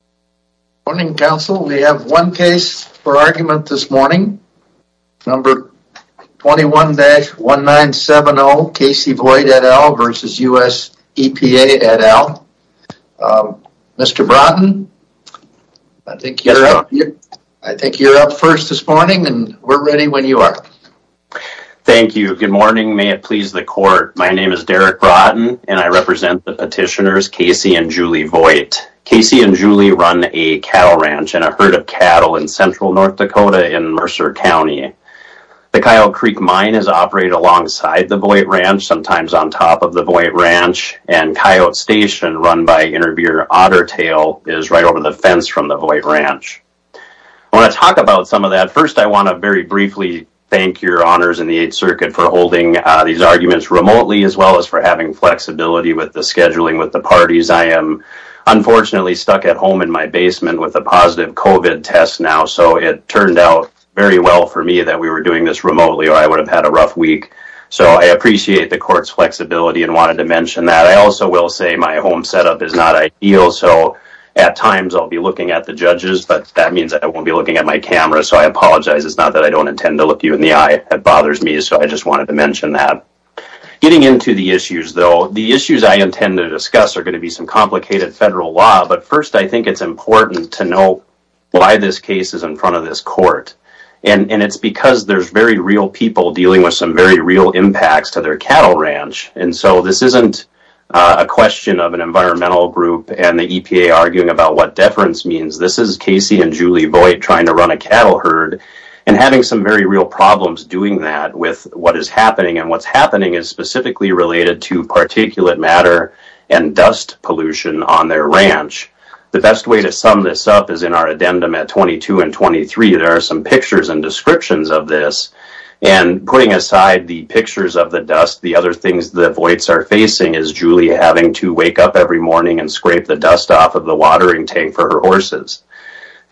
Good morning, counsel. We have one case for argument this morning. Number 21-1970 Casey Voigt et al. versus U.S. EPA et al. Mr. Broughton, I think you're up first this morning and we're ready when you are. Thank you. Good morning. May it please the court. My name is Derek Broughton, and I represent the petitioners Casey and Julie Voigt. Casey and Julie run a cattle ranch and a herd of cattle in central North Dakota in Mercer County. The Coyote Creek Mine is operated alongside the Voigt Ranch, sometimes on top of the Voigt Ranch, and Coyote Station, run by interviewer Otter Tail, is right over the fence from the Voigt Ranch. I want to talk about some of that. First, I want to very briefly thank your honors in the Eighth Circuit for holding these arguments remotely, as well as for having flexibility with the scheduling with the parties. I am unfortunately stuck at home in my basement with a positive COVID test now, so it turned out very well for me that we were doing this remotely or I would have had a rough week. So I appreciate the court's flexibility and wanted to mention that. I also will say my home setup is not ideal, so at times I'll be looking at the judges, but that means I won't be looking at my camera, so I apologize. It's not that I don't intend to look you in the eye, it bothers me, so I just wanted to mention that. Getting into the issues, though, the issues I intend to discuss are going to be some complicated federal law, but first I think it's important to know why this case is in front of this court. And it's because there's very real people dealing with some very real impacts to their cattle ranch, and so this isn't a question of an environmental group and the EPA arguing about what deference means. This is Casey and Julie Voigt trying to run a cattle herd and having some very real problems doing that with what is happening, and what's happening is specifically related to particulate matter and dust pollution on their ranch. The best way to sum this up is in our addendum at 22 and 23. There are some pictures and descriptions of this, and putting aside the pictures of the dust, the other things that Voigt's are facing is Julie having to wake up every morning and scrape the dust off of the watering tank for her horses.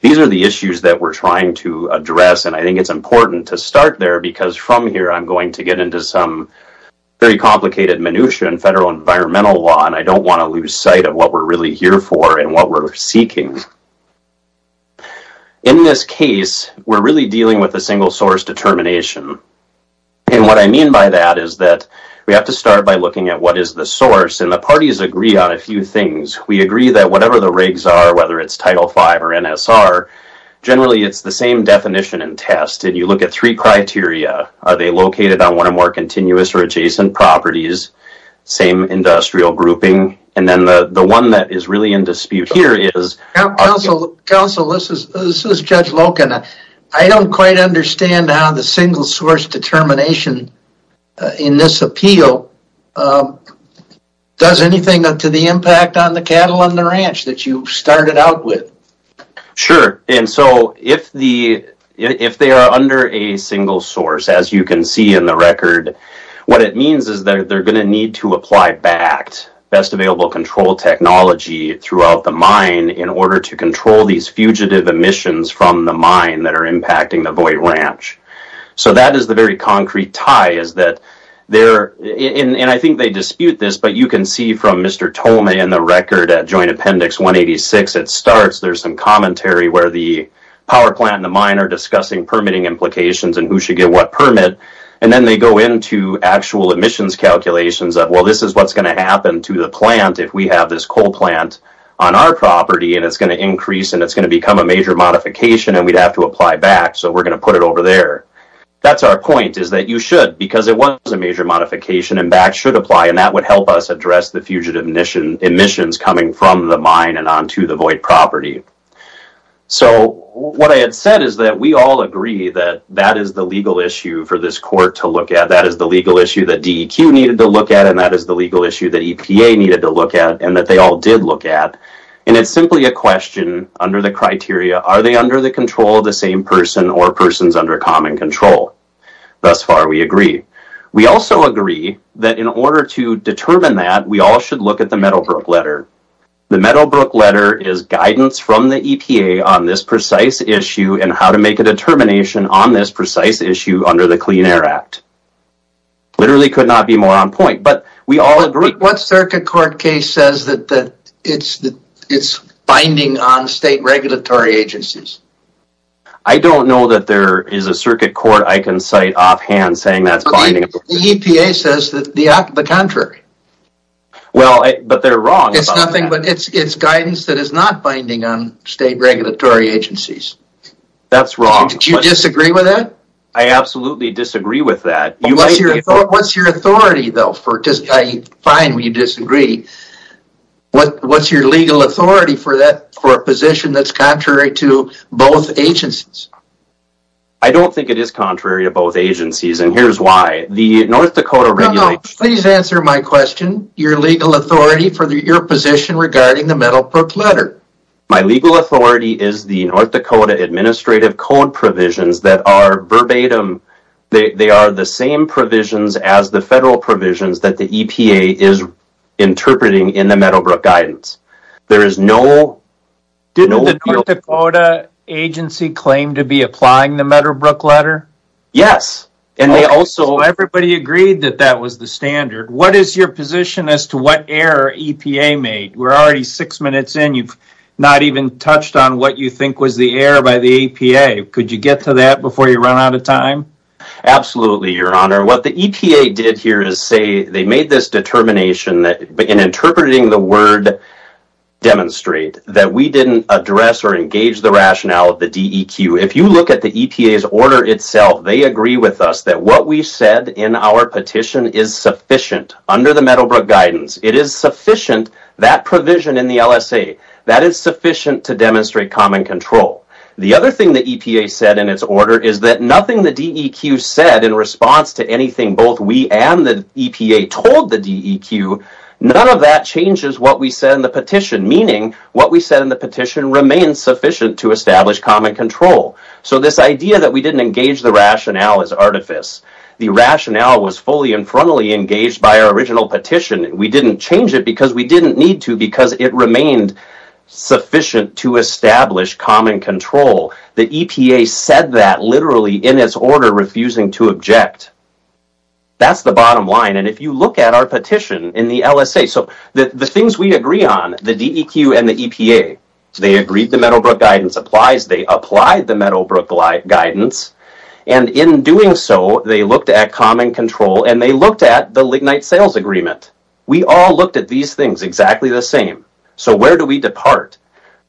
These are the issues that we're trying to address, and I think it's important to start there because from here I'm going to get into some very complicated minutiae in federal environmental law, and I don't want to lose sight of what we're really here for and what we're seeking. In this case, we're really dealing with a single source determination, and what I mean by that is that we have to start by looking at what is the source, and the parties agree on a few things. We agree that whatever the rigs are, whether it's Title V or NSR, generally it's the same definition and test, and you look at three criteria. Are they located on one or more continuous or adjacent properties? Same industrial grouping, and then the one that is really in dispute here is... Counsel, this is Judge Loken. I don't quite understand how the single source determination in this appeal does anything to the impact on the cattle on the ranch that you started out with. Sure, and so if they are under a single source, as you can see in the record, what it means is that they're going to need to apply BACT, Best Available Control Technology, throughout the mine in order to control these fugitive emissions from the mine that are impacting the Voight Ranch. So that is the very concrete tie is that they're... And I think they dispute this, but you can see from Mr. Tolme and the record at Joint Appendix 186, it starts. There's some commentary where the power plant and the mine are discussing permitting implications and who should get what permit, and then they go into actual emissions calculations of, well, this is what's going to happen to the plant if we have this coal plant on our property, and it's going to increase, and it's going to become a major modification, and we'd have to apply BACT, so we're going to put it over there. That's our point, is that you should, because it was a major modification, and BACT should apply, and that would help us address the fugitive emissions coming from the mine and onto the Voight property. So what I had said is that we all agree that that is the legal issue for this court to look at. That is the legal issue that DEQ needed to look at, and that is the legal issue that EPA needed to look at, and that they all did look at, and it's simply a question under the criteria, are they under the control of the same person or persons under common control? Thus far, we agree. We also agree that in order to determine that, we all should look at the Meadowbrook letter. The Meadowbrook letter is guidance from the EPA on this precise issue and how to make a determination on this precise issue under the Clean Air Act. Literally could not be more on point, but we all agree. What circuit court case says that it's binding on state regulatory agencies? The EPA says the contrary. Well, but they're wrong. It's guidance that is not binding on state regulatory agencies. That's wrong. Do you disagree with that? I absolutely disagree with that. What's your authority, though? I find we disagree. What's your legal authority for a position that's contrary to both agencies? I don't think it is contrary to both agencies, and here's why. The North Dakota... No, no. Please answer my question. Your legal authority for your position regarding the Meadowbrook letter. My legal authority is the North Dakota administrative code provisions that are verbatim. They are the same provisions as the federal provisions that the EPA is interpreting in the Meadowbrook guidance. There is no... Didn't the North Dakota agency claim to be applying the Meadowbrook letter? Yes, and they also... Everybody agreed that that was the standard. What is your position as to what error EPA made? We're already six minutes in. You've not even touched on what you think was the error by the EPA. Could you get to that before you run out of time? Absolutely, Your Honor. What the EPA did here is say they made this determination that in interpreting the word demonstrate that we didn't address or engage the rationale of the DEQ. If you look at the EPA's order itself, they agree with us that what we said in our petition is sufficient under the Meadowbrook guidance. It is sufficient, that provision in the LSA, that is sufficient to demonstrate common control. The other thing the EPA said in its order is that nothing the DEQ said in response to anything both we and the EPA told the DEQ, none of that changes what we said in the petition, meaning what we said in the petition remains sufficient to establish common control. So this idea that we didn't engage the rationale is artifice. The rationale was fully and frontally engaged by our original petition. We didn't change it because we didn't need to because it remained sufficient to establish common control. The EPA said that literally in its order, refusing to object. That's the bottom line, and if you look at our petition in the LSA, so the things we DEQ and the EPA, they agreed the Meadowbrook guidance applies, they applied the Meadowbrook guidance, and in doing so, they looked at common control and they looked at the Lignite Sales Agreement. We all looked at these things exactly the same. So where do we depart?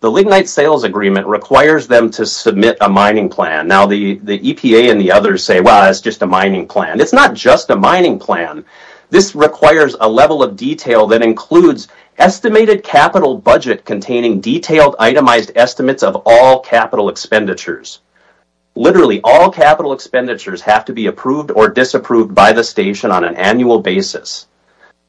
The Lignite Sales Agreement requires them to submit a mining plan. Now the EPA and the others say, well, it's just a mining plan. It's not just a mining plan. This requires a level of detail that includes estimated capital budget containing detailed itemized estimates of all capital expenditures. Literally all capital expenditures have to be approved or disapproved by the station on an annual basis.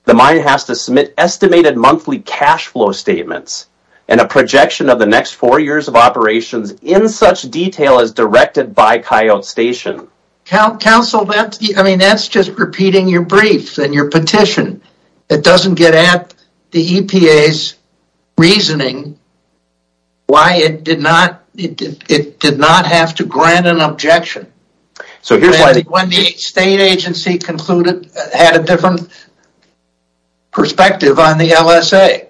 The mine has to submit estimated monthly cash flow statements and a projection of the next four years of operations in such detail as directed by Coyote Station. Councilman, I mean, that's just repeating your briefs and your petition. It doesn't get at the EPA's reasoning why it did not have to grant an objection when the state agency concluded it had a different perspective on the LSA.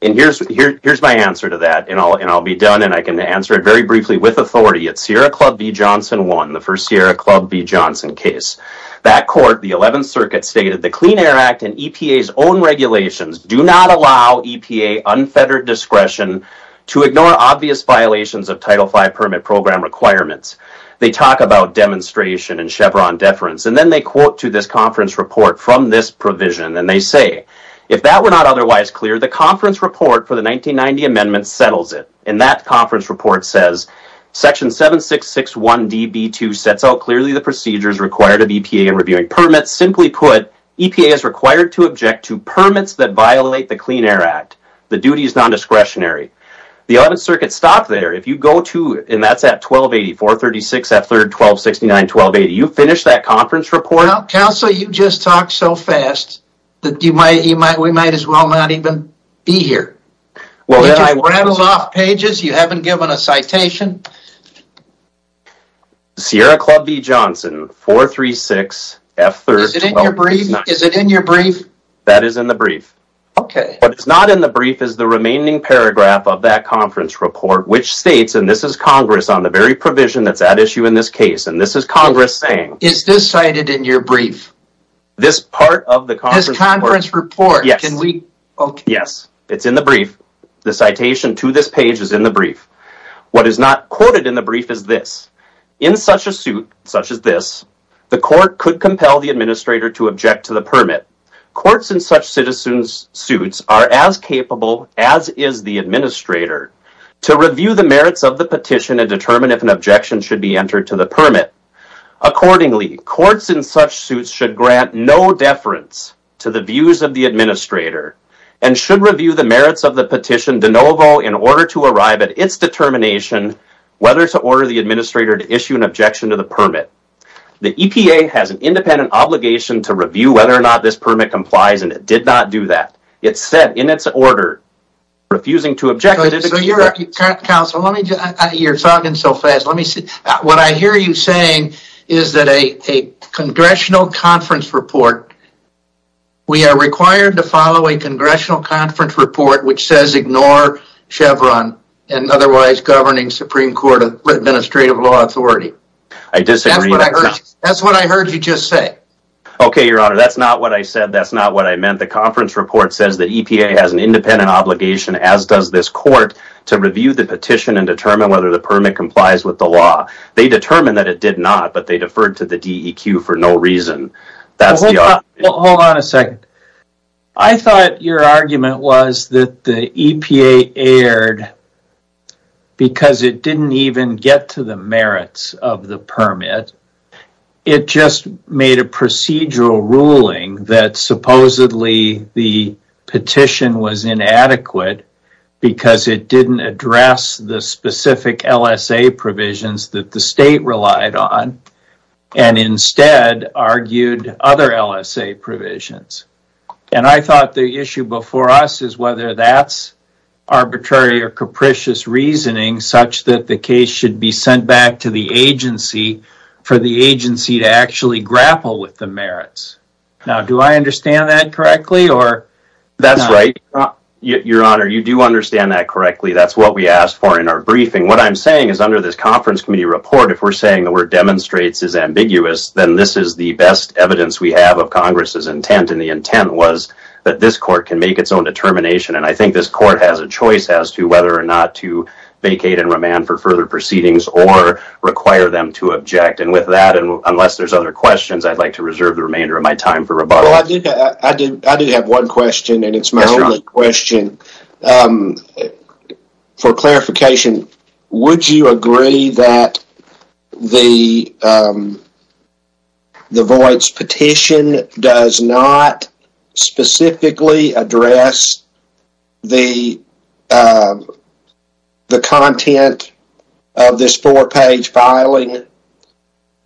Here's my answer to that, and I'll be done and I can answer it very briefly with authority. It's Sierra Club v. Johnson 1, the first Sierra Club v. Johnson case. That court, the 11th Clean Air Act, and EPA's own regulations do not allow EPA unfettered discretion to ignore obvious violations of Title V permit program requirements. They talk about demonstration and Chevron deference, and then they quote to this conference report from this provision, and they say, if that were not otherwise clear, the conference report for the 1990 amendment settles it. And that conference report says, Section 7661 DB2 sets out clearly the procedures required of EPA in reviewing permits. Simply put, EPA is required to object to permits that violate the Clean Air Act. The duty is non-discretionary. The 11th Circuit stopped there. If you go to, and that's at 1280, 436, F3rd, 1269, 1280, you finish that conference report. Council, you just talked so fast that we might as well not even be here. You rattled haven't given a citation. Sierra Club v. Johnson, 436, F3rd, 1269. Is it in your brief? That is in the brief. Okay. What is not in the brief is the remaining paragraph of that conference report, which states, and this is Congress on the very provision that's at issue in this case, and this is Congress saying. Is this cited in your brief? This part of the conference report. Yes. It's in the brief. The citation to this page is in the brief. What is not quoted in the brief is this. In such a suit, such as this, the court could compel the administrator to object to the permit. Courts in such citizens suits are as capable as is the administrator to review the merits of the petition and determine if an objection should be entered to the permit. Accordingly, courts in such suits should grant no deference to the views of the administrator and should review the merits of the petition de novo in order to arrive at its determination whether to order the administrator to issue an objection to the permit. The EPA has an independent obligation to review whether or not this permit complies and it did not do that. It said in its order, refusing to object... Counselor, you're talking so fast. What I hear you saying is that a congressional conference report, we are required to follow a congressional conference report which says ignore Chevron and otherwise governing Supreme Court Administrative Law Authority. I disagree. That's what I heard you just say. Okay, Your Honor, that's not what I heard. A congressional conference report says that EPA has an independent obligation, as does this court, to review the petition and determine whether the permit complies with the law. They determined that it did not, but they deferred to the DEQ for no reason. Hold on a second. I thought your argument was that the EPA erred because it didn't even get to the merits of the permit. It just made a point that the petition was inadequate because it didn't address the specific LSA provisions that the state relied on and instead argued other LSA provisions. And I thought the issue before us is whether that's arbitrary or capricious reasoning such that the case should be sent back to the agency for the agency to actually grapple with the merits. Now, do I understand that correctly? That's right, Your Honor. You do understand that correctly. That's what we asked for in our briefing. What I'm saying is under this conference committee report, if we're saying the word demonstrates is ambiguous, then this is the best evidence we have of Congress's intent. And the intent was that this court can make its own determination. And I think this court has a choice as to whether or not to vacate and remand for further proceedings or require them to object. And with that, unless there's other questions, I'd like to reserve the remainder of my time. Well, I do have one question and it's my only question. For clarification, would you agree that the voice petition does not specifically address the content of this four-page filing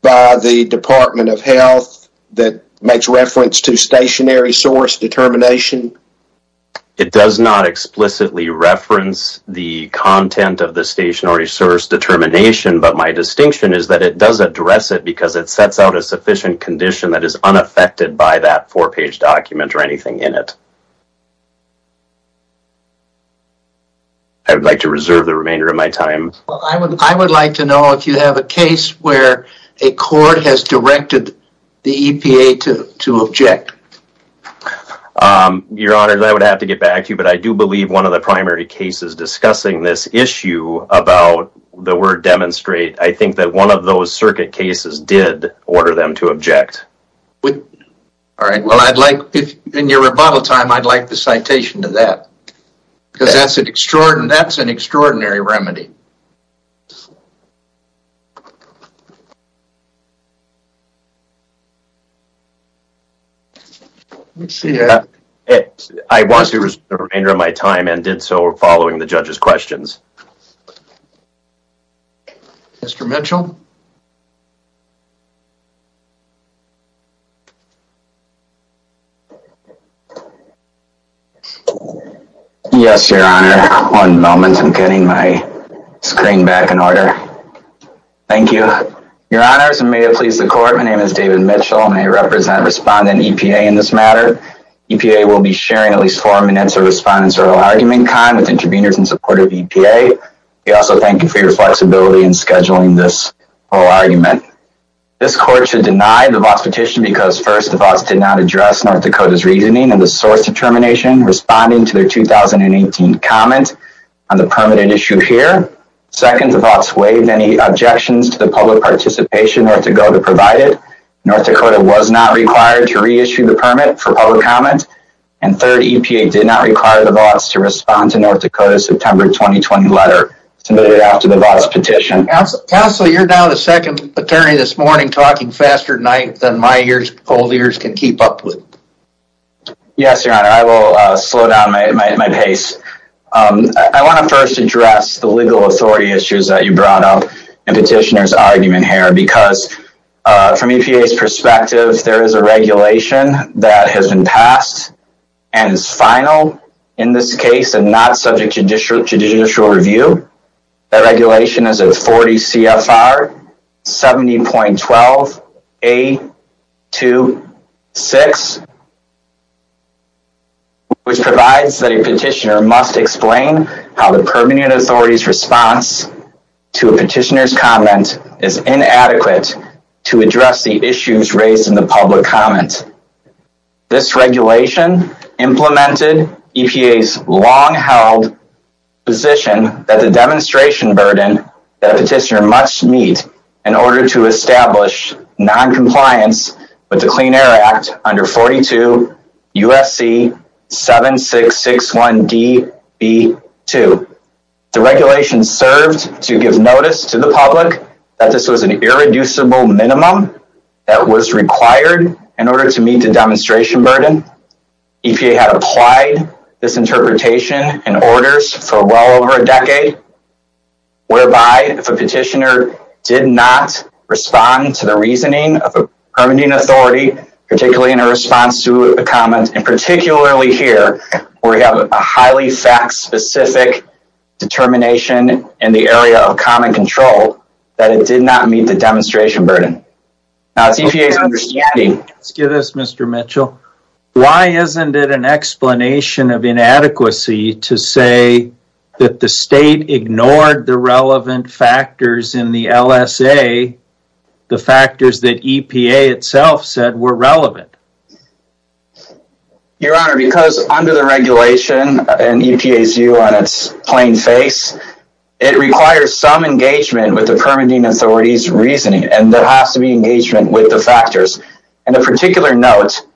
by the Department of Health that makes reference to stationary source determination? It does not explicitly reference the content of the stationary source determination, but my distinction is that it does address it because it sets out a sufficient condition that is unaffected by that four-page document or anything in it. I would like to reserve the remainder of my time. I would like to know if you have a case where a court has directed the EPA to object. Your Honor, I would have to get back to you, but I do believe one of the primary cases discussing this issue about the word demonstrate, I think that one of those circuit cases did order them to object. In your rebuttal time, I'd like the citation to that because that's an extraordinary remedy. I want to reserve the remainder of my time and did so following the judge's questions. Mr. Mitchell? Yes, Your Honor. One moment, I'm getting my screen back in order. Thank you. Your Honors, and may it please the court, my name is David Mitchell and I represent respondent EPA in this matter. EPA will be sharing at least four minutes of respondent's oral argument time with interveners in support of EPA. We also thank you for your flexibility in scheduling this oral argument. This court should deny the VOTS petition because first, the VOTS did not address North Dakota's reasoning and the source determination responding to their 2018 comment on the permanent issue here. Second, the VOTS waived any objections to the public participation North Dakota provided. North Dakota was not required to reissue the permit for public comment. And third, EPA did not require the VOTS to respond to North Dakota's September 2020 letter submitted after the VOTS petition. Counsel, you're now the second attorney this morning talking faster than my old ears can keep up with. Yes, Your Honor. I will slow down my pace. I want to first address the legal authority issues that you brought up and petitioner's argument here. Because from EPA's perspective, there is a regulation that has been passed and is final in this case and not subject to judicial review. That regulation is a 40 CFR 70.12A26, which provides that a petitioner must explain how the permanent authority's response to a petitioner's comment is inadequate to address the issues raised in the public comment. This regulation implemented EPA's long-held position that the demonstration burden that a petitioner must meet in order to establish non-compliance with the Clean Air Act under 42 USC 7661DB2. The regulation served to give notice to the public that this was an irreducible minimum that was required in order to meet the demonstration burden. EPA has applied this interpretation and orders for well over a decade, whereby if a petitioner did not respond to the reasoning of a permitting authority, particularly in a response to a comment, and particularly here where we have a highly fact-specific determination in the area of common control, that it did not meet the demonstration burden. Why isn't it an explanation of inadequacy to say that the state ignored the relevant factors in the LSA, the factors that EPA itself said were relevant? Your Honor, because under the regulation and EPA's view on its plain face, it requires some engagement with the permitting authority's reasoning and there has to be engagement with the factors. On a particular note,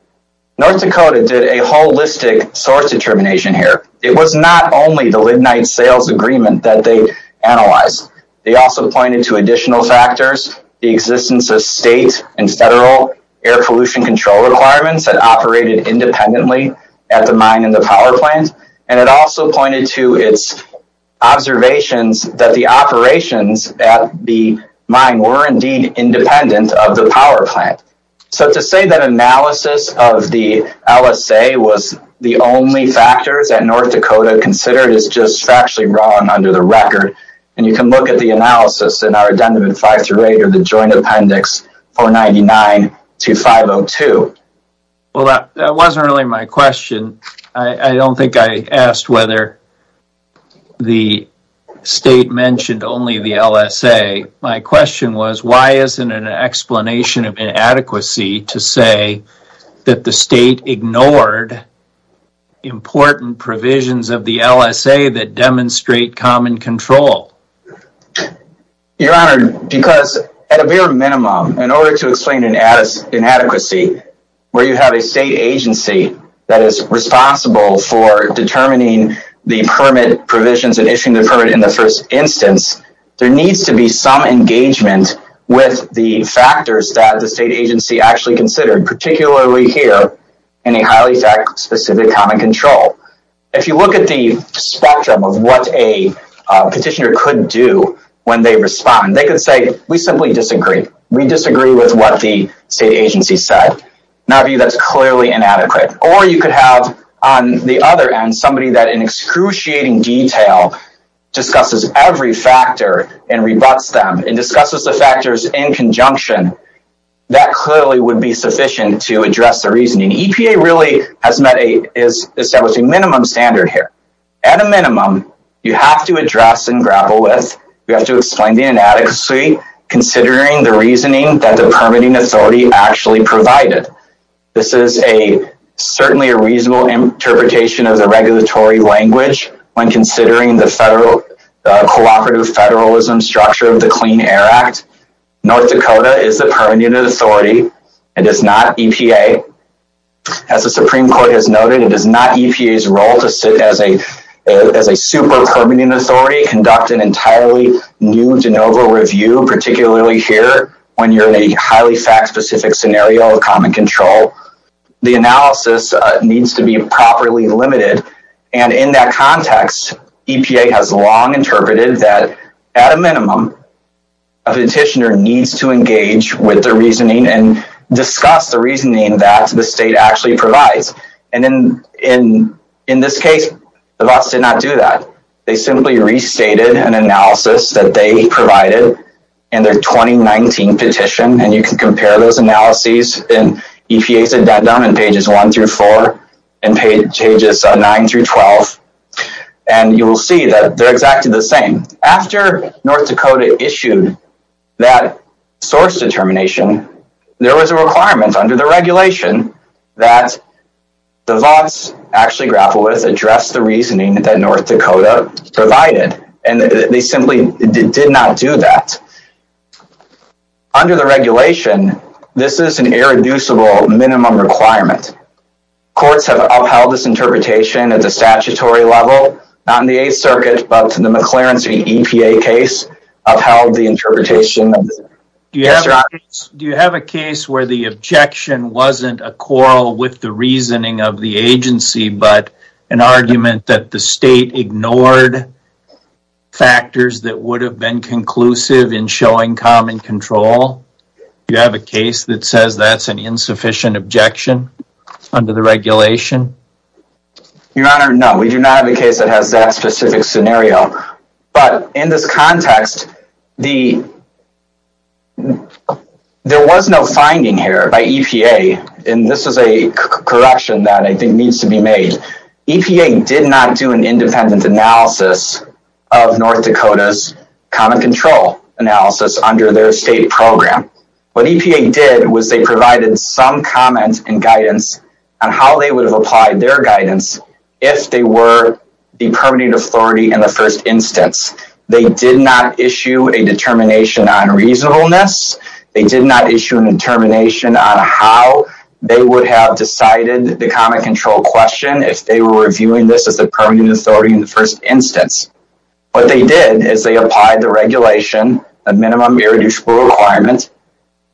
North Dakota did a holistic source determination here. It was not only the Lignite Sales Agreement that they analyzed. They also pointed to additional factors, the existence of state and federal air pollution control requirements that operated independently at the mine and the power plant. And it also pointed to its observations that the operations at the mine were indeed independent of the power plant. So to say that analysis of the LSA was the only factors that North Dakota considered is just factually wrong under the record. And you can look at the analysis in our Addendum 5-8 of the Joint Appendix 499-502. Well, that wasn't really my question. I don't think I asked whether the state mentioned only the LSA. My question was, why isn't an explanation of inadequacy to say that the state ignored important provisions of the LSA that demonstrate common control? Your Honor, because at a bare minimum, in order to explain inadequacy, where you have a state agency that is responsible for determining the permit provisions and issuing the permit in the first instance, there needs to be some engagement with the factors that the state agency actually considered, particularly here in a highly fact specific common control. If you look at the spectrum of what a petitioner could do when they respond, they could say, we simply disagree. We disagree with what the state agency said. Now that's clearly inadequate. Or you could have, on the other end, somebody that in excruciating detail discusses every factor and rebuts them and discusses the factors in conjunction. That clearly would be sufficient to address the reasoning. EPA really has established a minimum standard here. At a minimum, you have to address and grapple with, you have to explain the inadequacy, considering the reasoning that the permitting authority actually provided. This is certainly a reasonable interpretation of the regulatory language when considering the cooperative federalism structure of the Clean Air Act. North Dakota is the permitting authority. It is not EPA. As the Supreme Court has noted, it is not EPA's role to sit as a super permitting authority, conduct an entirely new de novo review, particularly here when you're in a highly fact specific scenario of common control. The analysis needs to be properly limited. In that context, EPA has long interpreted that at a minimum, a petitioner needs to engage with the reasoning and discuss the reasoning that the state actually provides. In this case, the boss did not do that. They simply restated an analysis that they provided in their 2019 petition. You can compare those analyses in EPA's addendum in pages 1-4 and pages 9-12. You will see that they're exactly the same. After North Dakota issued that source determination, there was a requirement under the regulation that the boss actually grapple with, address the reasoning that North Dakota provided. They simply did not do that. Under the regulation, this is an irreducible minimum requirement. Courts have upheld this interpretation at the statutory level. Not in the Eighth Circuit, but the McClaren v. EPA case upheld the interpretation. Do you have a case where the objection wasn't a quarrel with the reasoning of the agency, but an argument that the state ignored factors that would have been conclusive in showing common control? Do you have a case that says that's an insufficient objection under the regulation? Your Honor, no. We do not have a case that has that specific scenario. In this context, there was no finding here by EPA. This is a correction that I think needs to be made. EPA did not do an independent analysis of North Dakota's common control analysis under their state program. What EPA did was they provided some comment and guidance on how they would have applied their guidance if they were the permitting authority in the first instance. They did not issue a determination on reasonableness. They did not issue a determination on how they would have decided the common control question if they were reviewing this as the permitting authority in the first instance. What they did is they applied the regulation, a minimum irreducible requirement,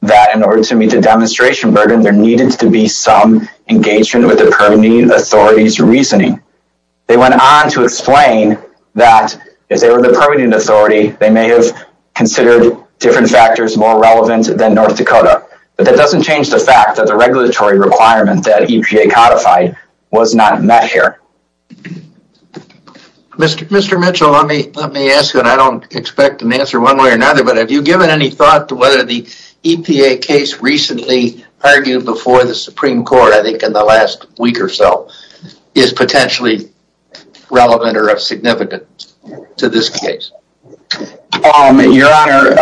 that in order to meet the demonstration burden, there needed to be some engagement with the permitting authority's reasoning. They went on to explain that if they were the permitting authority, they may have considered different factors more relevant than North Dakota. But that doesn't change the fact that the regulatory requirement that EPA codified was not met here. Mr. Mitchell, let me ask you, and I don't expect an answer one way or another, but have you given any thought to whether the EPA case recently argued before the Supreme Court, I think in the last week or so, is potentially relevant or significant to this case? Your Honor,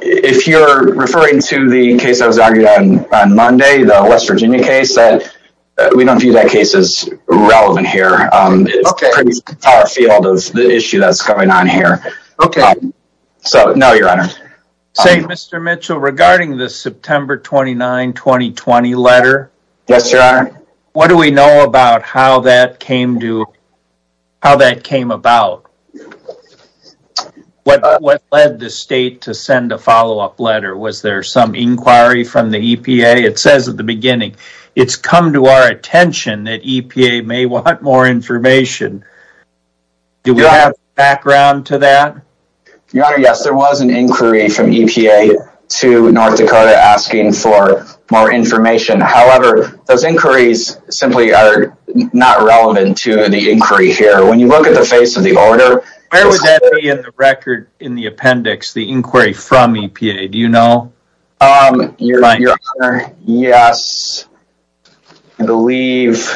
if you're referring to the case that was argued on Monday, the West Virginia case, we don't view that case as relevant here. It's pretty far afield of the issue that's going on here. Okay. So, no, Your Honor. Say, Mr. Mitchell, regarding the September 29, 2020 letter, what do we know about how that came about? What led the state to send a follow-up letter? Was there some inquiry from the EPA? It says at the beginning, it's come to our attention that EPA may want more information. Do we have a background to that? Your Honor, yes, there was an inquiry from EPA to North Dakota asking for more information. However, those inquiries simply are not relevant to the inquiry here. When you look at the face of the order... Where would that be in the record, in the appendix, the inquiry from EPA? Do you know? Your Honor, yes, I believe...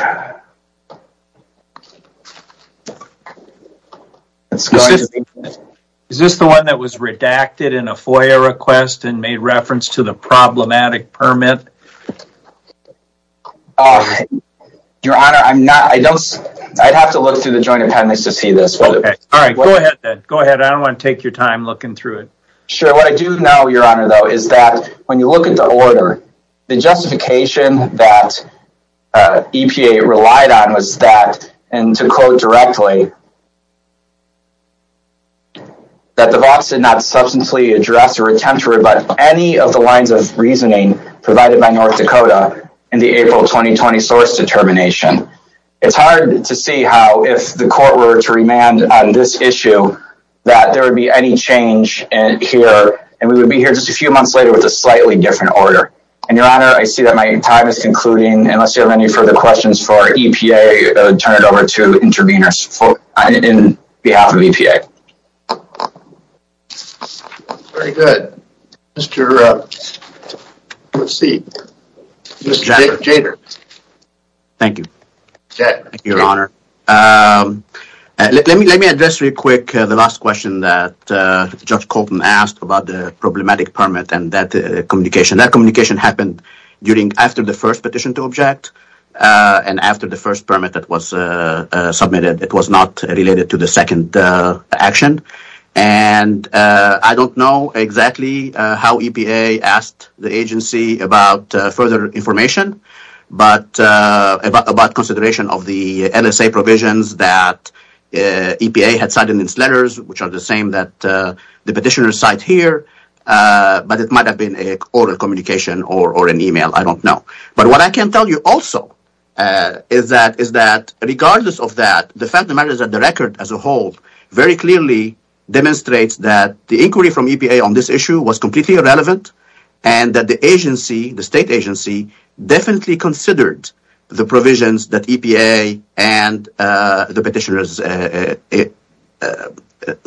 Is this the one that was redacted in a FOIA request and made reference to the problematic permit? Your Honor, I'm not... I don't... I'd have to look through the joint appendix to see this. All right. Go ahead, then. Go ahead. I don't want to take your time looking through it. Sure. What I do know, Your Honor, though, is that when you look at the order, the justification that EPA relied on was that... in the April 2020 source determination. It's hard to see how, if the court were to remand on this issue, that there would be any change here. And we would be here just a few months later with a slightly different order. And, Your Honor, I see that my time is concluding. Unless you have any further questions for EPA, I would turn it over to interveners on behalf of EPA. Very good. Mr... Let's see. Mr. Jader. Thank you. Jack. Thank you, Your Honor. Let me address real quick the last question that Judge Colton asked about the problematic permit and that communication. That communication happened after the first petition to object and after the first permit that was submitted. It was not related to the second action. And I don't know exactly how EPA asked the agency about further information. But about consideration of the LSA provisions that EPA had signed in its letters, which are the same that the petitioner signed here. But it might have been an oral communication or an e-mail. I don't know. But what I can tell you also is that regardless of that, the fact of the matter is that the record as a whole very clearly demonstrates that the inquiry from EPA on this issue was completely irrelevant. And that the agency, the state agency, definitely considered the provisions that EPA and the petitioners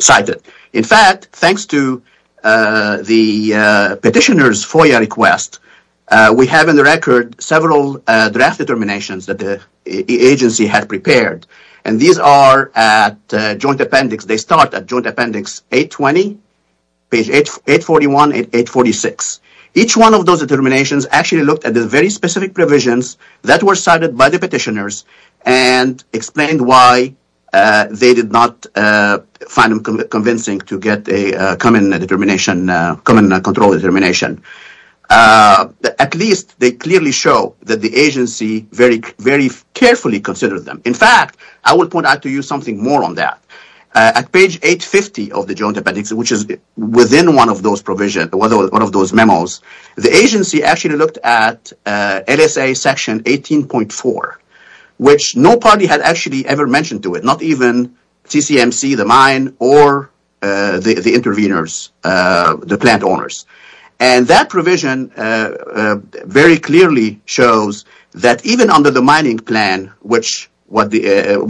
cited. In fact, thanks to the petitioner's FOIA request, we have in the record several draft determinations that the agency had prepared. And these are at Joint Appendix. They start at Joint Appendix 820, page 841 and 846. Each one of those determinations actually looked at the very specific provisions that were cited by the petitioners and explained why they did not find them convincing to get a common control determination. At least they clearly show that the agency very carefully considered them. In fact, I will point out to you something more on that. At page 850 of the Joint Appendix, which is within one of those provisions, one of those memos, the agency actually looked at LSA section 18.4, which no party had actually ever mentioned to it. Not even TCMC, the mine, or the intervenors, the plant owners. And that provision very clearly shows that even under the mining plan, which the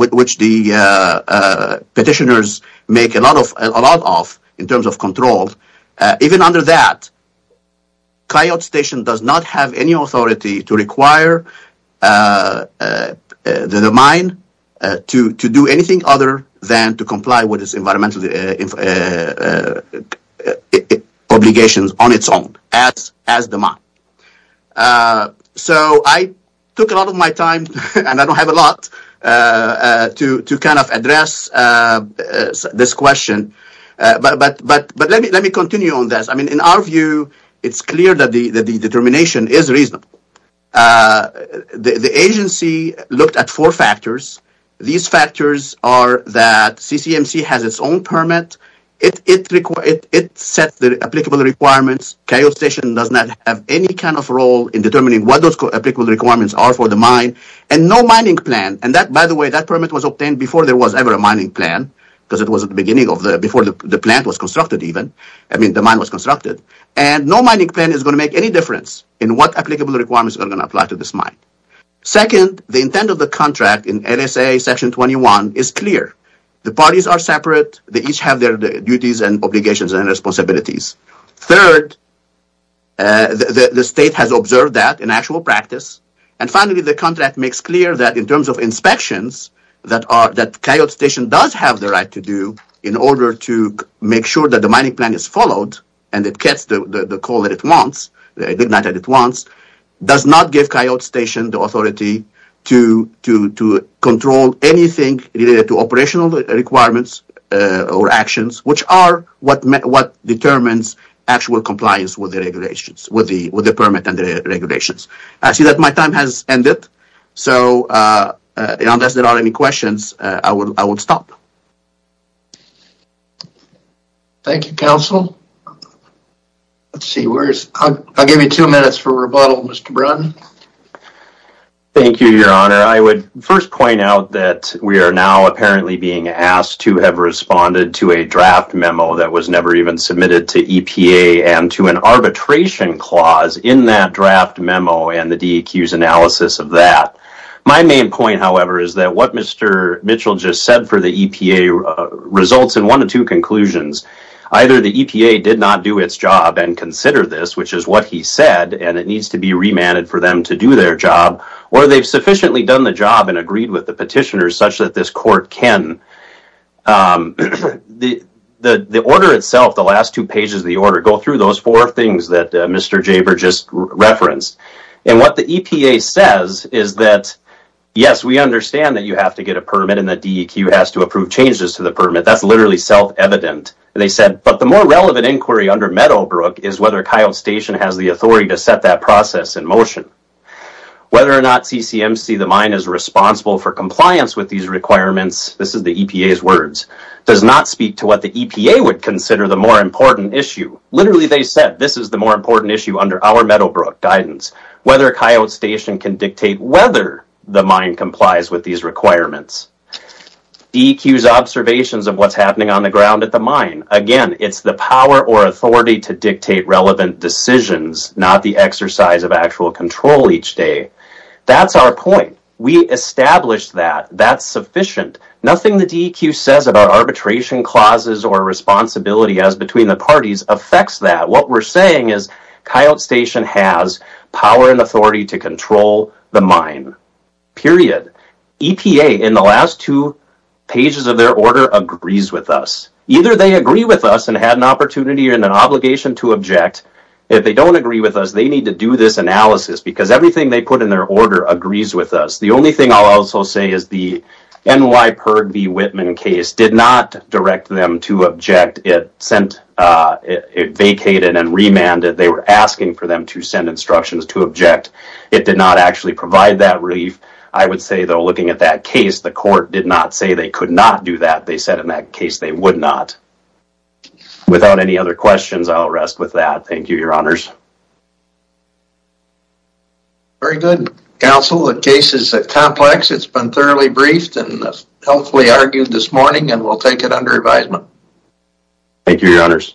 petitioners make a lot of in terms of control, even under that, Coyote Station does not have any authority to require the mine to do anything other than to comply with its environmental obligations. So I took a lot of my time, and I don't have a lot, to address this question. But let me continue on this. In our view, it's clear that the determination is reasonable. The agency looked at four factors. These factors are that CCMC has its own permit. It sets the applicable requirements. Coyote Station does not have any kind of role in determining what those applicable requirements are for the mine. And no mining plan. And that, by the way, that permit was obtained before there was ever a mining plan, because it was at the beginning of the, before the plant was constructed even. I mean, the mine was constructed. And no mining plan is going to make any difference in what applicable requirements are going to apply to this mine. Second, the intent of the contract in LSA section 21 is clear. The parties are separate. They each have their duties and obligations and responsibilities. Third, the state has observed that in actual practice. And finally, the contract makes clear that in terms of inspections, that Coyote Station does have the right to do in order to make sure that the mining plan is followed, and it gets the call that it wants, does not give Coyote Station the authority to control anything related to operational requirements or actions, which are what determines actual compliance with the regulations, with the permit and the regulations. I see that my time has ended. So unless there are any questions, I will stop. Thank you, counsel. I'll give you two minutes for rebuttal, Mr. Brun. Thank you, Your Honor. I would first point out that we are now apparently being asked to have responded to a draft memo that was never even submitted to EPA, and to an arbitration clause in that draft memo and the DEQ's analysis of that. My main point, however, is that what Mr. Mitchell just said for the EPA results in one of two conclusions. Either the EPA did not do its job and consider this, which is what he said, and it needs to be remanded for them to do their job, or they've sufficiently done the job and agreed with the petitioners such that this court can. The order itself, the last two pages of the order, go through those four things that Mr. Jaber just referenced. And what the EPA says is that, yes, we understand that you have to get a permit and the DEQ has to approve changes to the permit. That's literally self-evident. They said, but the more relevant inquiry under Meadowbrook is whether Kyle Station has the authority to set that process in motion. Whether or not CCMC, the mine, is responsible for compliance with these requirements, this is the EPA's words, does not speak to what the EPA would consider the more important issue. Literally, they said, this is the more important issue under our Meadowbrook guidance, whether Kyle Station can dictate whether the mine complies with these requirements. DEQ's observations of what's happening on the ground at the mine. Again, it's the power or authority to dictate relevant decisions, not the exercise of actual control each day. That's our point. We established that. That's sufficient. Nothing the DEQ says about arbitration clauses or responsibility as between the parties affects that. What we're saying is Kyle Station has power and authority to control the mine. Period. EPA, in the last two pages of their order, agrees with us. Either they agree with us and had an opportunity and an obligation to object. If they don't agree with us, they need to do this analysis because everything they put in their order agrees with us. The only thing I'll also say is the NYPIRG v. Whitman case did not direct them to object. It vacated and remanded. They were asking for them to send instructions to object. It did not actually provide that relief. I would say, though, looking at that case, the court did not say they could not do that. They said in that case they would not. Without any other questions, I'll rest with that. Thank you, your honors. Very good, counsel. The case is complex. It's been thoroughly briefed and healthfully argued this morning and we'll take it under advisement. Thank you, your honors.